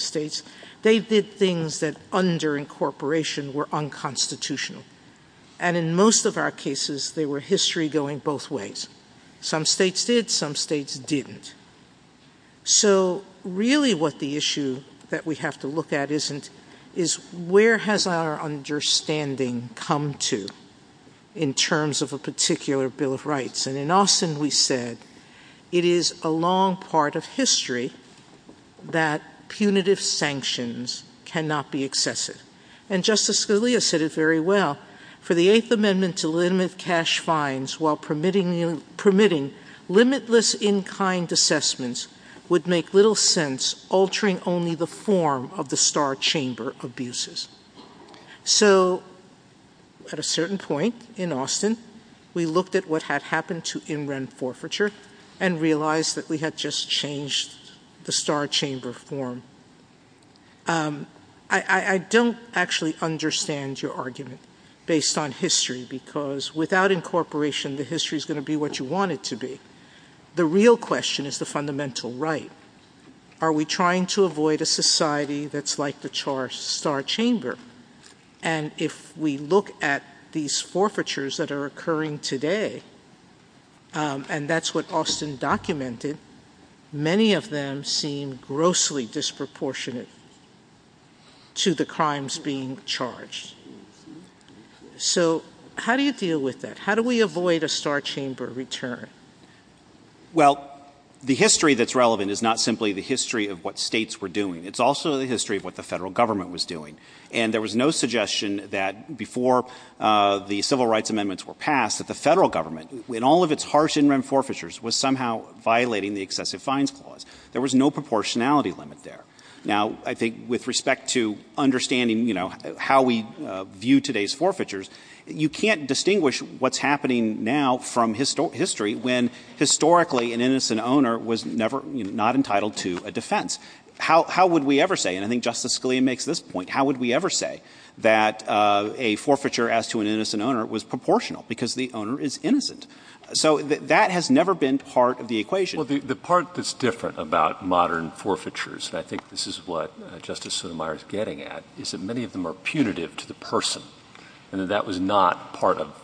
states, they did things that under incorporation were unconstitutional. And in most of our cases, they were history going both ways. Some states did, some states didn't. So really what the issue that we have to look at isn't — is where has our understanding come to in terms of a particular Bill of Rights? And in Austin, we said it is a long part of history that punitive sanctions cannot be excessive. And Justice Scalia said it very well. But for the Eighth Amendment to limit cash fines while permitting limitless in-kind assessments would make little sense altering only the form of the star chamber abuses. So at a certain point in Austin, we looked at what had happened to in-rim forfeiture and realized that we had just changed the star chamber form. I don't actually understand your argument based on history because without incorporation, the history is going to be what you want it to be. The real question is the fundamental right. Are we trying to avoid a society that's like the star chamber? And if we look at these forfeitures that are occurring today, and that's what Austin documented, many of them seem grossly disproportionate to the crimes being charged. So how do you deal with that? How do we avoid a star chamber return? Well, the history that's relevant is not simply the history of what states were doing. It's also the history of what the federal government was doing. And there was no suggestion that before the Civil Rights Amendments were passed that the federal government, in all of its harsh in-rim forfeitures, was somehow violating the Excessive Fines Clause. There was no proportionality limit there. Now, I think with respect to understanding how we view today's forfeitures, you can't distinguish what's happening now from history when historically an innocent owner was not entitled to a defense. How would we ever say, and I think Justice Scalia makes this point, how would we ever say that a forfeiture as to an innocent owner was proportional because the owner is innocent? So that has never been part of the equation. Well, the part that's different about modern forfeitures, and I think this is what Justice Sotomayor is getting at, is that many of them are punitive to the person, and that that was not part of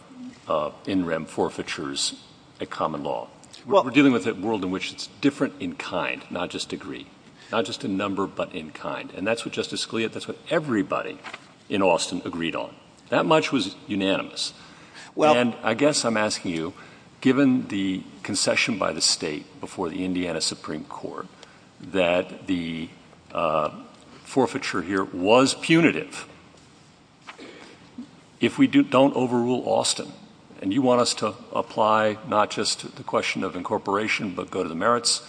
in-rim forfeitures at common law. We're dealing with a world in which it's different in kind, not just degree, not just in number, but in kind. And that's what Justice Scalia, that's what everybody in Austin agreed on. That much was unanimous. And I guess I'm asking you, given the concession by the state before the Indiana Supreme Court that the forfeiture here was punitive, if we don't overrule Austin, and you want us to apply not just the question of incorporation, but go to the merits,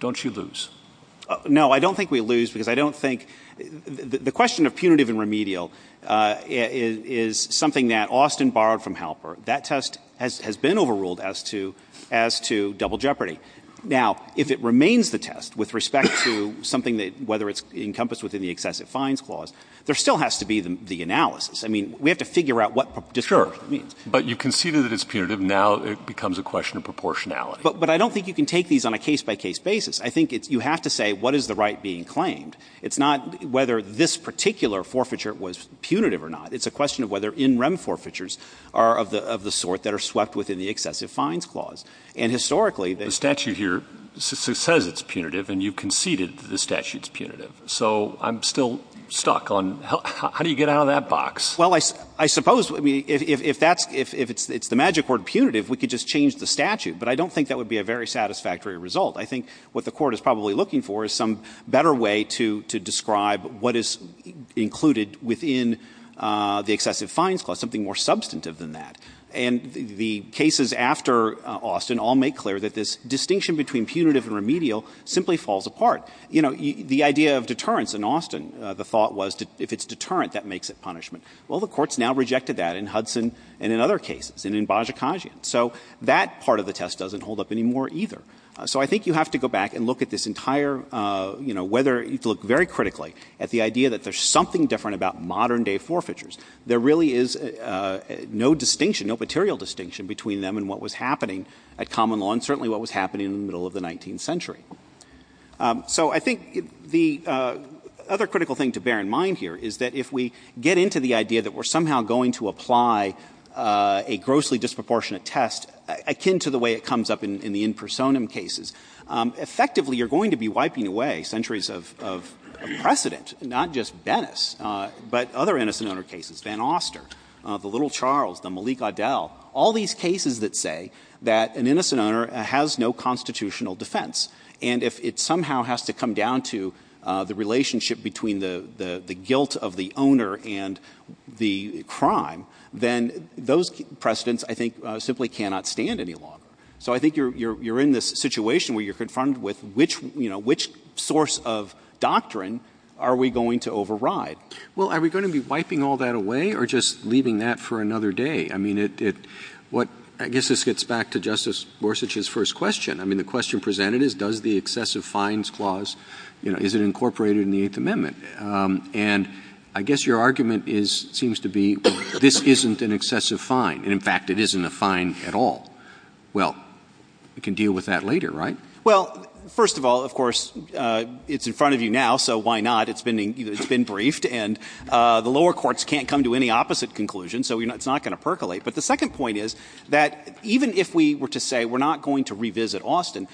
don't you lose? No, I don't think we lose because I don't think – the question of punitive and remedial is something that Austin borrowed from Halper. That test has been overruled as to double jeopardy. Now, if it remains the test with respect to something that, whether it's encompassed within the excessive fines clause, there still has to be the analysis. I mean, we have to figure out what disproportionate means. But you conceded that it's punitive. Now it becomes a question of proportionality. But I don't think you can take these on a case-by-case basis. I think you have to say what is the right being claimed. It's not whether this particular forfeiture was punitive or not. It's a question of whether in-rem forfeitures are of the sort that are swept within the excessive fines clause. And historically – The statute here says it's punitive, and you conceded that the statute's punitive. So I'm still stuck on how do you get out of that box? Well, I suppose if that's – if it's the magic word punitive, we could just change the statute. But I don't think that would be a very satisfactory result. I think what the Court is probably looking for is some better way to describe what is included within the excessive fines clause, something more substantive than that. And the cases after Austin all make clear that this distinction between punitive and remedial simply falls apart. You know, the idea of deterrence in Austin, the thought was if it's deterrent, that makes it punishment. Well, the Court's now rejected that in Hudson and in other cases, and in Bajikajian. So that part of the test doesn't hold up anymore either. So I think you have to go back and look at this entire – you know, whether – you have to look very critically at the idea that there's something different about modern-day forfeitures. There really is no distinction, no material distinction, between them and what was happening at common law and certainly what was happening in the middle of the 19th century. So I think the other critical thing to bear in mind here is that if we get into the idea that we're somehow going to apply a grossly disproportionate test, akin to the way it comes up in the in personam cases, effectively you're going to be wiping away centuries of precedent, not just Bennis, but other innocent owner cases. Van Oster, the little Charles, the Malik Adele, all these cases that say that an innocent owner has no constitutional defense. And if it somehow has to come down to the relationship between the guilt of the owner and the crime, then those precedents, I think, simply cannot stand any longer. So I think you're in this situation where you're confronted with which source of doctrine are we going to override. Well, are we going to be wiping all that away or just leaving that for another day? I mean, I guess this gets back to Justice Gorsuch's first question. I mean, the question presented is does the excessive fines clause, you know, is it incorporated in the Eighth Amendment? And I guess your argument seems to be this isn't an excessive fine. In fact, it isn't a fine at all. Well, we can deal with that later, right? Well, first of all, of course, it's in front of you now, so why not? It's been briefed. And the lower courts can't come to any opposite conclusion, so it's not going to percolate. But the second point is that even if we were to say we're not going to revisit Austin,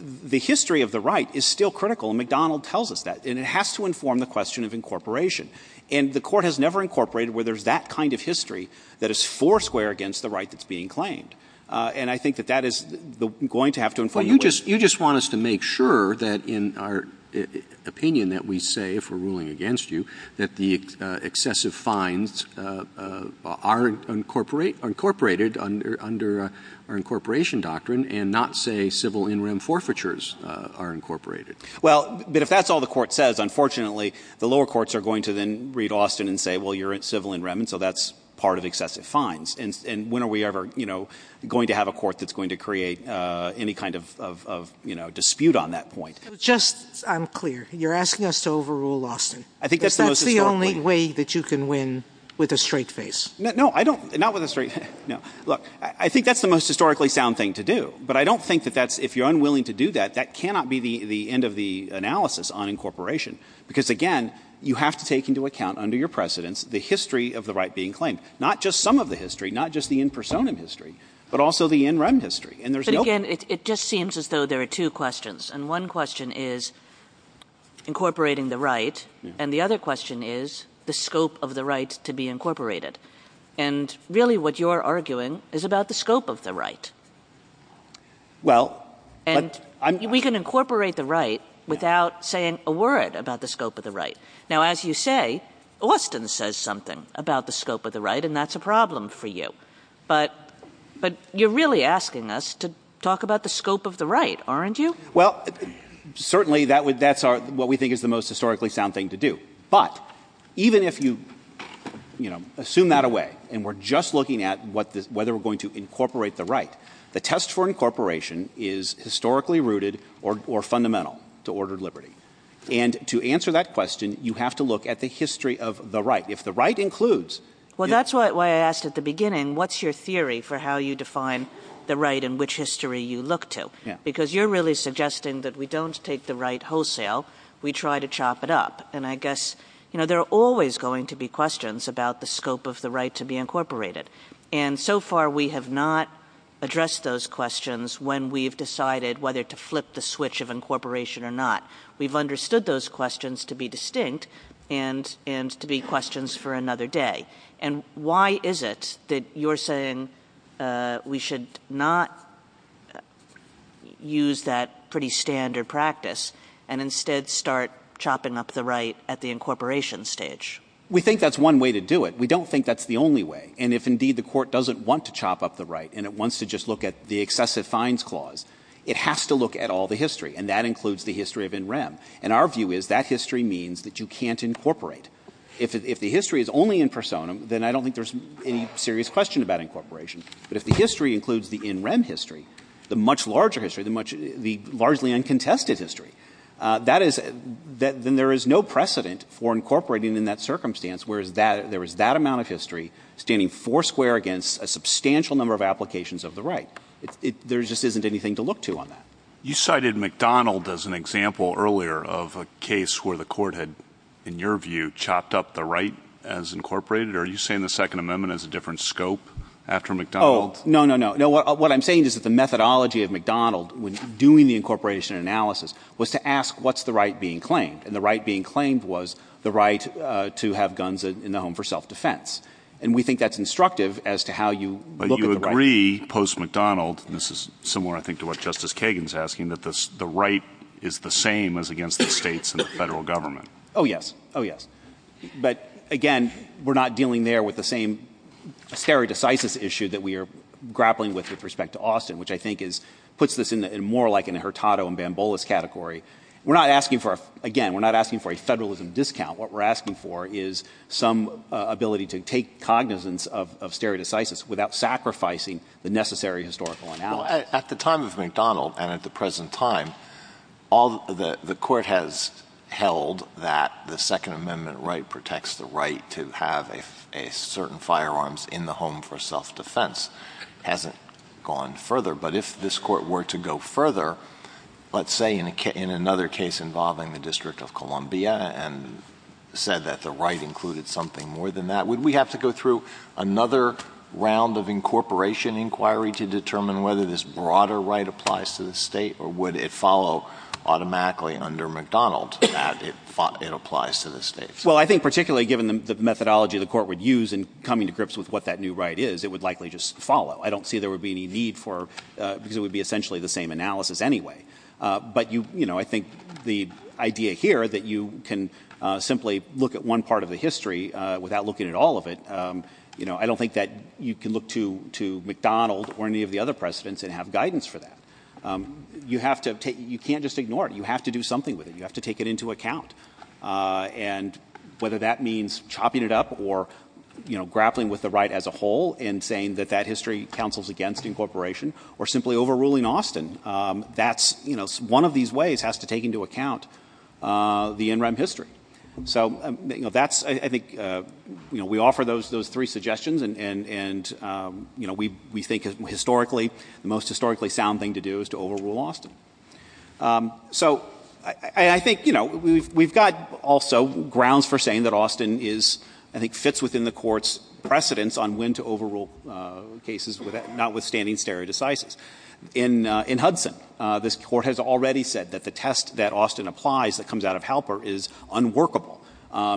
the history of the right is still critical, and McDonald tells us that. And it has to inform the question of incorporation. And the Court has never incorporated where there's that kind of history that is foursquare against the right that's being claimed. And I think that that is going to have to inform the way it is. Well, you just want us to make sure that in our opinion that we say if we're ruling against you that the excessive fines are incorporated under our incorporation doctrine and not say civil in-rem forfeitures are incorporated. Well, but if that's all the Court says, unfortunately the lower courts are going to then read Austin and say, well, you're civil in-rem, and so that's part of excessive fines. And when are we ever going to have a court that's going to create any kind of dispute on that point? Just so I'm clear, you're asking us to overrule Austin. I think that's the most historic point. Because that's the only way that you can win with a straight face. No, not with a straight face. Look, I think that's the most historically sound thing to do. But I don't think that if you're unwilling to do that, that cannot be the end of the analysis on incorporation. Because again, you have to take into account under your precedence the history of the right being claimed. Not just some of the history, not just the in-personam history, but also the in-rem history. And there's no... But again, it just seems as though there are two questions. And one question is incorporating the right, and the other question is the scope of the right to be incorporated. And really what you're arguing is about the scope of the right. And we can incorporate the right without saying a word about the scope of the right. Now, as you say, Austin says something about the scope of the right, and that's a problem for you. But you're really asking us to talk about the scope of the right, aren't you? Well, certainly that's what we think is the most historically sound thing to do. But even if you assume that away, and we're just looking at whether we're going to incorporate the right, the test for incorporation is historically rooted or fundamental to ordered liberty. And to answer that question, you have to look at the history of the right. If the right includes... Well, that's why I asked at the beginning, what's your theory for how you define the right and which history you look to? Because you're really suggesting that we don't take the right wholesale, we try to chop it up. And I guess there are always going to be questions about the scope of the right to be incorporated. And so far we have not addressed those questions when we've decided whether to flip the switch of incorporation or not. We've understood those questions to be distinct and to be questions for another day. And why is it that you're saying we should not use that pretty standard practice and instead start chopping up the right at the incorporation stage? We think that's one way to do it. But we don't think that's the only way. And if indeed the Court doesn't want to chop up the right and it wants to just look at the excessive fines clause, it has to look at all the history, and that includes the history of in rem. And our view is that history means that you can't incorporate. If the history is only in personam, then I don't think there's any serious question about incorporation. But if the history includes the in rem history, the much larger history, the largely uncontested history, then there is no precedent for incorporating in that circumstance whereas there is that amount of history standing foursquare against a substantial number of applications of the right. There just isn't anything to look to on that. You cited McDonald as an example earlier of a case where the Court had, in your view, chopped up the right as incorporated. Are you saying the Second Amendment has a different scope after McDonald? Oh, no, no, no. What I'm saying is that the methodology of McDonald when doing the incorporation analysis was to ask what's the right being claimed. And the right being claimed was the right to have guns in the home for self-defense. And we think that's instructive as to how you look at the right. But you agree, post-McDonald, and this is similar, I think, to what Justice Kagan is asking, that the right is the same as against the states and the federal government. Oh, yes. Oh, yes. But, again, we're not dealing there with the same stare decisis issue that we are grappling with with respect to Austin, which I think puts this in more like an Hurtado and Bamboulas category. We're not asking for, again, we're not asking for a federalism discount. What we're asking for is some ability to take cognizance of stare decisis without sacrificing the necessary historical analysis. Well, at the time of McDonald and at the present time, the Court has held that the Second Amendment right protects the right to have certain firearms in the home for self-defense. It hasn't gone further. But if this Court were to go further, let's say in another case involving the District of Columbia and said that the right included something more than that, would we have to go through another round of incorporation inquiry to determine whether this broader right applies to the state or would it follow automatically under McDonald that it applies to the state? Well, I think particularly given the methodology the Court would use in coming to grips with what that new right is, it would likely just follow. I don't see there would be any need for because it would be essentially the same analysis anyway. But I think the idea here that you can simply look at one part of the history without looking at all of it, I don't think that you can look to McDonald or any of the other precedents and have guidance for that. You can't just ignore it. You have to do something with it. You have to take it into account. And whether that means chopping it up or grappling with the right as a whole and saying that that history counsels against incorporation or simply overruling Austin, that's one of these ways has to take into account the in-rem history. So that's, I think, we offer those three suggestions and we think historically the most historically sound thing to do is to overrule Austin. So I think we've got also grounds for saying that Austin is, I think, fits within the Court's precedents on when to overrule cases notwithstanding stare decisis. In Hudson, this Court has already said that the test that Austin applies that comes out of Halper is unworkable.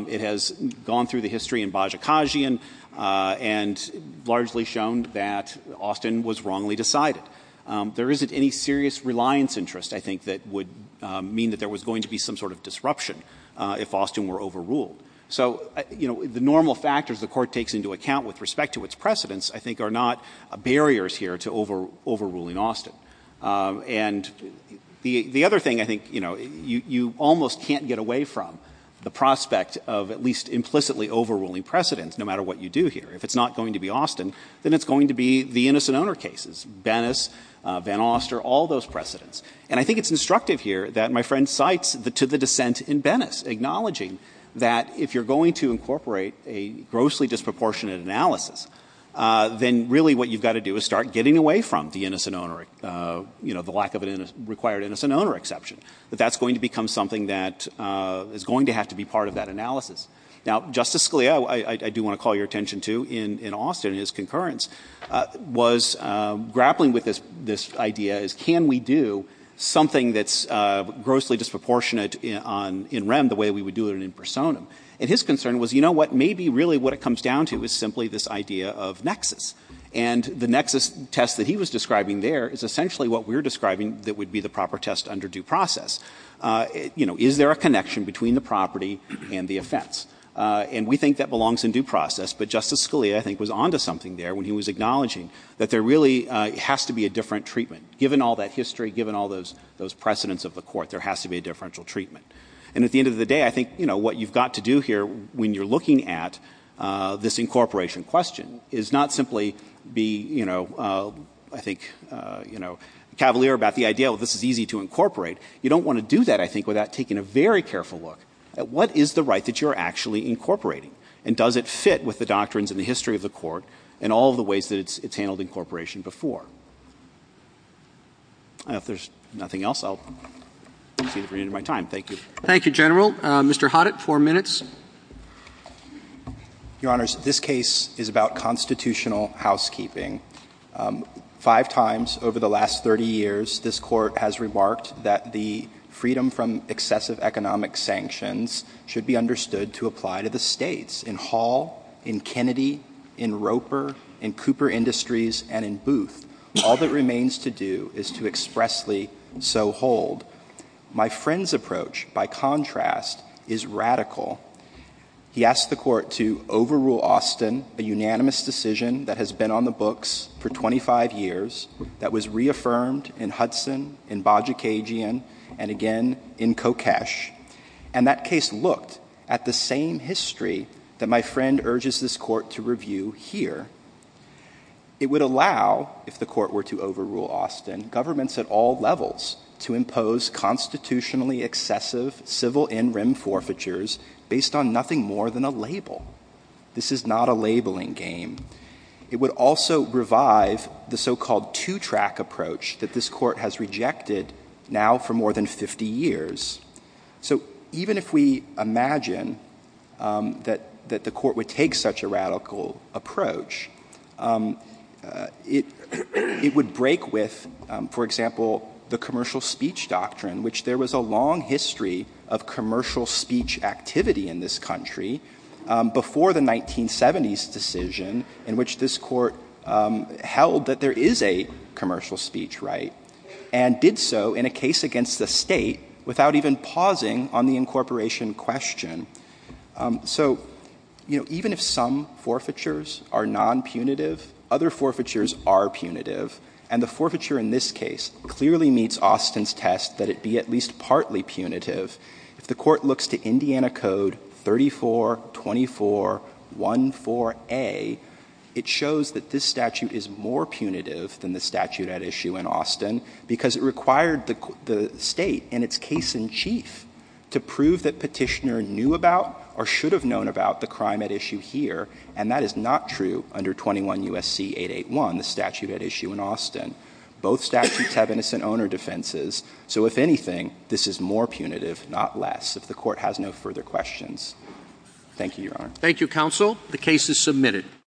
It has gone through the history in Bajikashian and largely shown that Austin was wrongly decided. There isn't any serious reliance interest, I think, that would mean that there was going to be some sort of disruption if Austin were overruled. So the normal factors the Court takes into account with respect to its precedents, I think, are not barriers here to overruling Austin. And the other thing, I think, you almost can't get away from the prospect of at least implicitly overruling precedents no matter what you do here. If it's not going to be Austin, then it's going to be the innocent owner cases, Bennis, Van Oster, all those precedents. to the dissent in Bennis, acknowledging that if you're going to incorporate a grossly disproportionate analysis, then really what you've got to do is start getting away from the lack of a required innocent owner exception, that that's going to become something that is going to have to be part of that analysis. Now, Justice Scalia, I do want to call your attention to, in Austin, his concurrence was grappling with this idea as can we do something that's grossly disproportionate in REM the way we would do it in personam. And his concern was, you know what, maybe really what it comes down to is simply this idea of nexus. And the nexus test that he was describing there is essentially what we're describing that would be the proper test under due process. Is there a connection between the property and the offense? And we think that belongs in due process. But Justice Scalia, I think, was on to something there when he was acknowledging that there really has to be a different treatment. Given all that history, given all those precedents of the Court, there has to be a differential treatment. And at the end of the day, I think what you've got to do here when you're looking at this incorporation question is not simply be, I think, cavalier about the idea that this is easy to incorporate. You don't want to do that, I think, without taking a very careful look at what is the right that you're actually incorporating. And does it fit with the doctrines and the history of the Court and all the ways that it's handled incorporation before? And if there's nothing else, I'll see if we're in my time. Thank you. Thank you, General. Mr. Hoddit, four minutes. Your Honors, this case is about constitutional housekeeping. Five times over the last 30 years, this Court has remarked that the freedom from excessive economic sanctions should be understood to apply to the states. In Hall, in Kennedy, in Roper, in Cooper Industries, and in Booth, all that remains to do is to expressly so hold. My friend's approach, by contrast, is radical. He asked the Court to overrule Austin, a unanimous decision that has been on the books for 25 years, that was reaffirmed in Hudson, in Bajikagian, and again in Kokesh. And that case looked at the same history that my friend urges this Court to review here. It would allow, if the Court were to overrule Austin, governments at all levels to impose constitutionally excessive civil in-rim forfeitures based on nothing more than a label. This is not a labeling game. It would also revive the so-called two-track approach that this Court has rejected now for more than 50 years. So even if we imagine that the Court would take such a radical approach, it would break with, for example, the commercial speech doctrine, which there was a long history of commercial speech activity in this country before the 1970s decision, in which this Court held that there is a commercial speech right, and did so in a case against the state without even pausing on the incorporation question. So even if some forfeitures are non-punitive, other forfeitures are punitive. And the forfeiture in this case clearly meets Austin's test that it be at least partly punitive. If the Court looks to Indiana Code 3424.14a, it shows that this statute is more punitive than the statute at issue in Austin, because it required the State, in its case in chief, to prove that petitioner knew about or should have known about the crime at issue here. And that is not true under 21 U.S.C. 881, the statute at issue in Austin. Both statutes have innocent owner defenses. So if anything, this is more punitive, not less, if the Court has no further questions. Thank you, Your Honor. Thank you, Counsel. The case is submitted.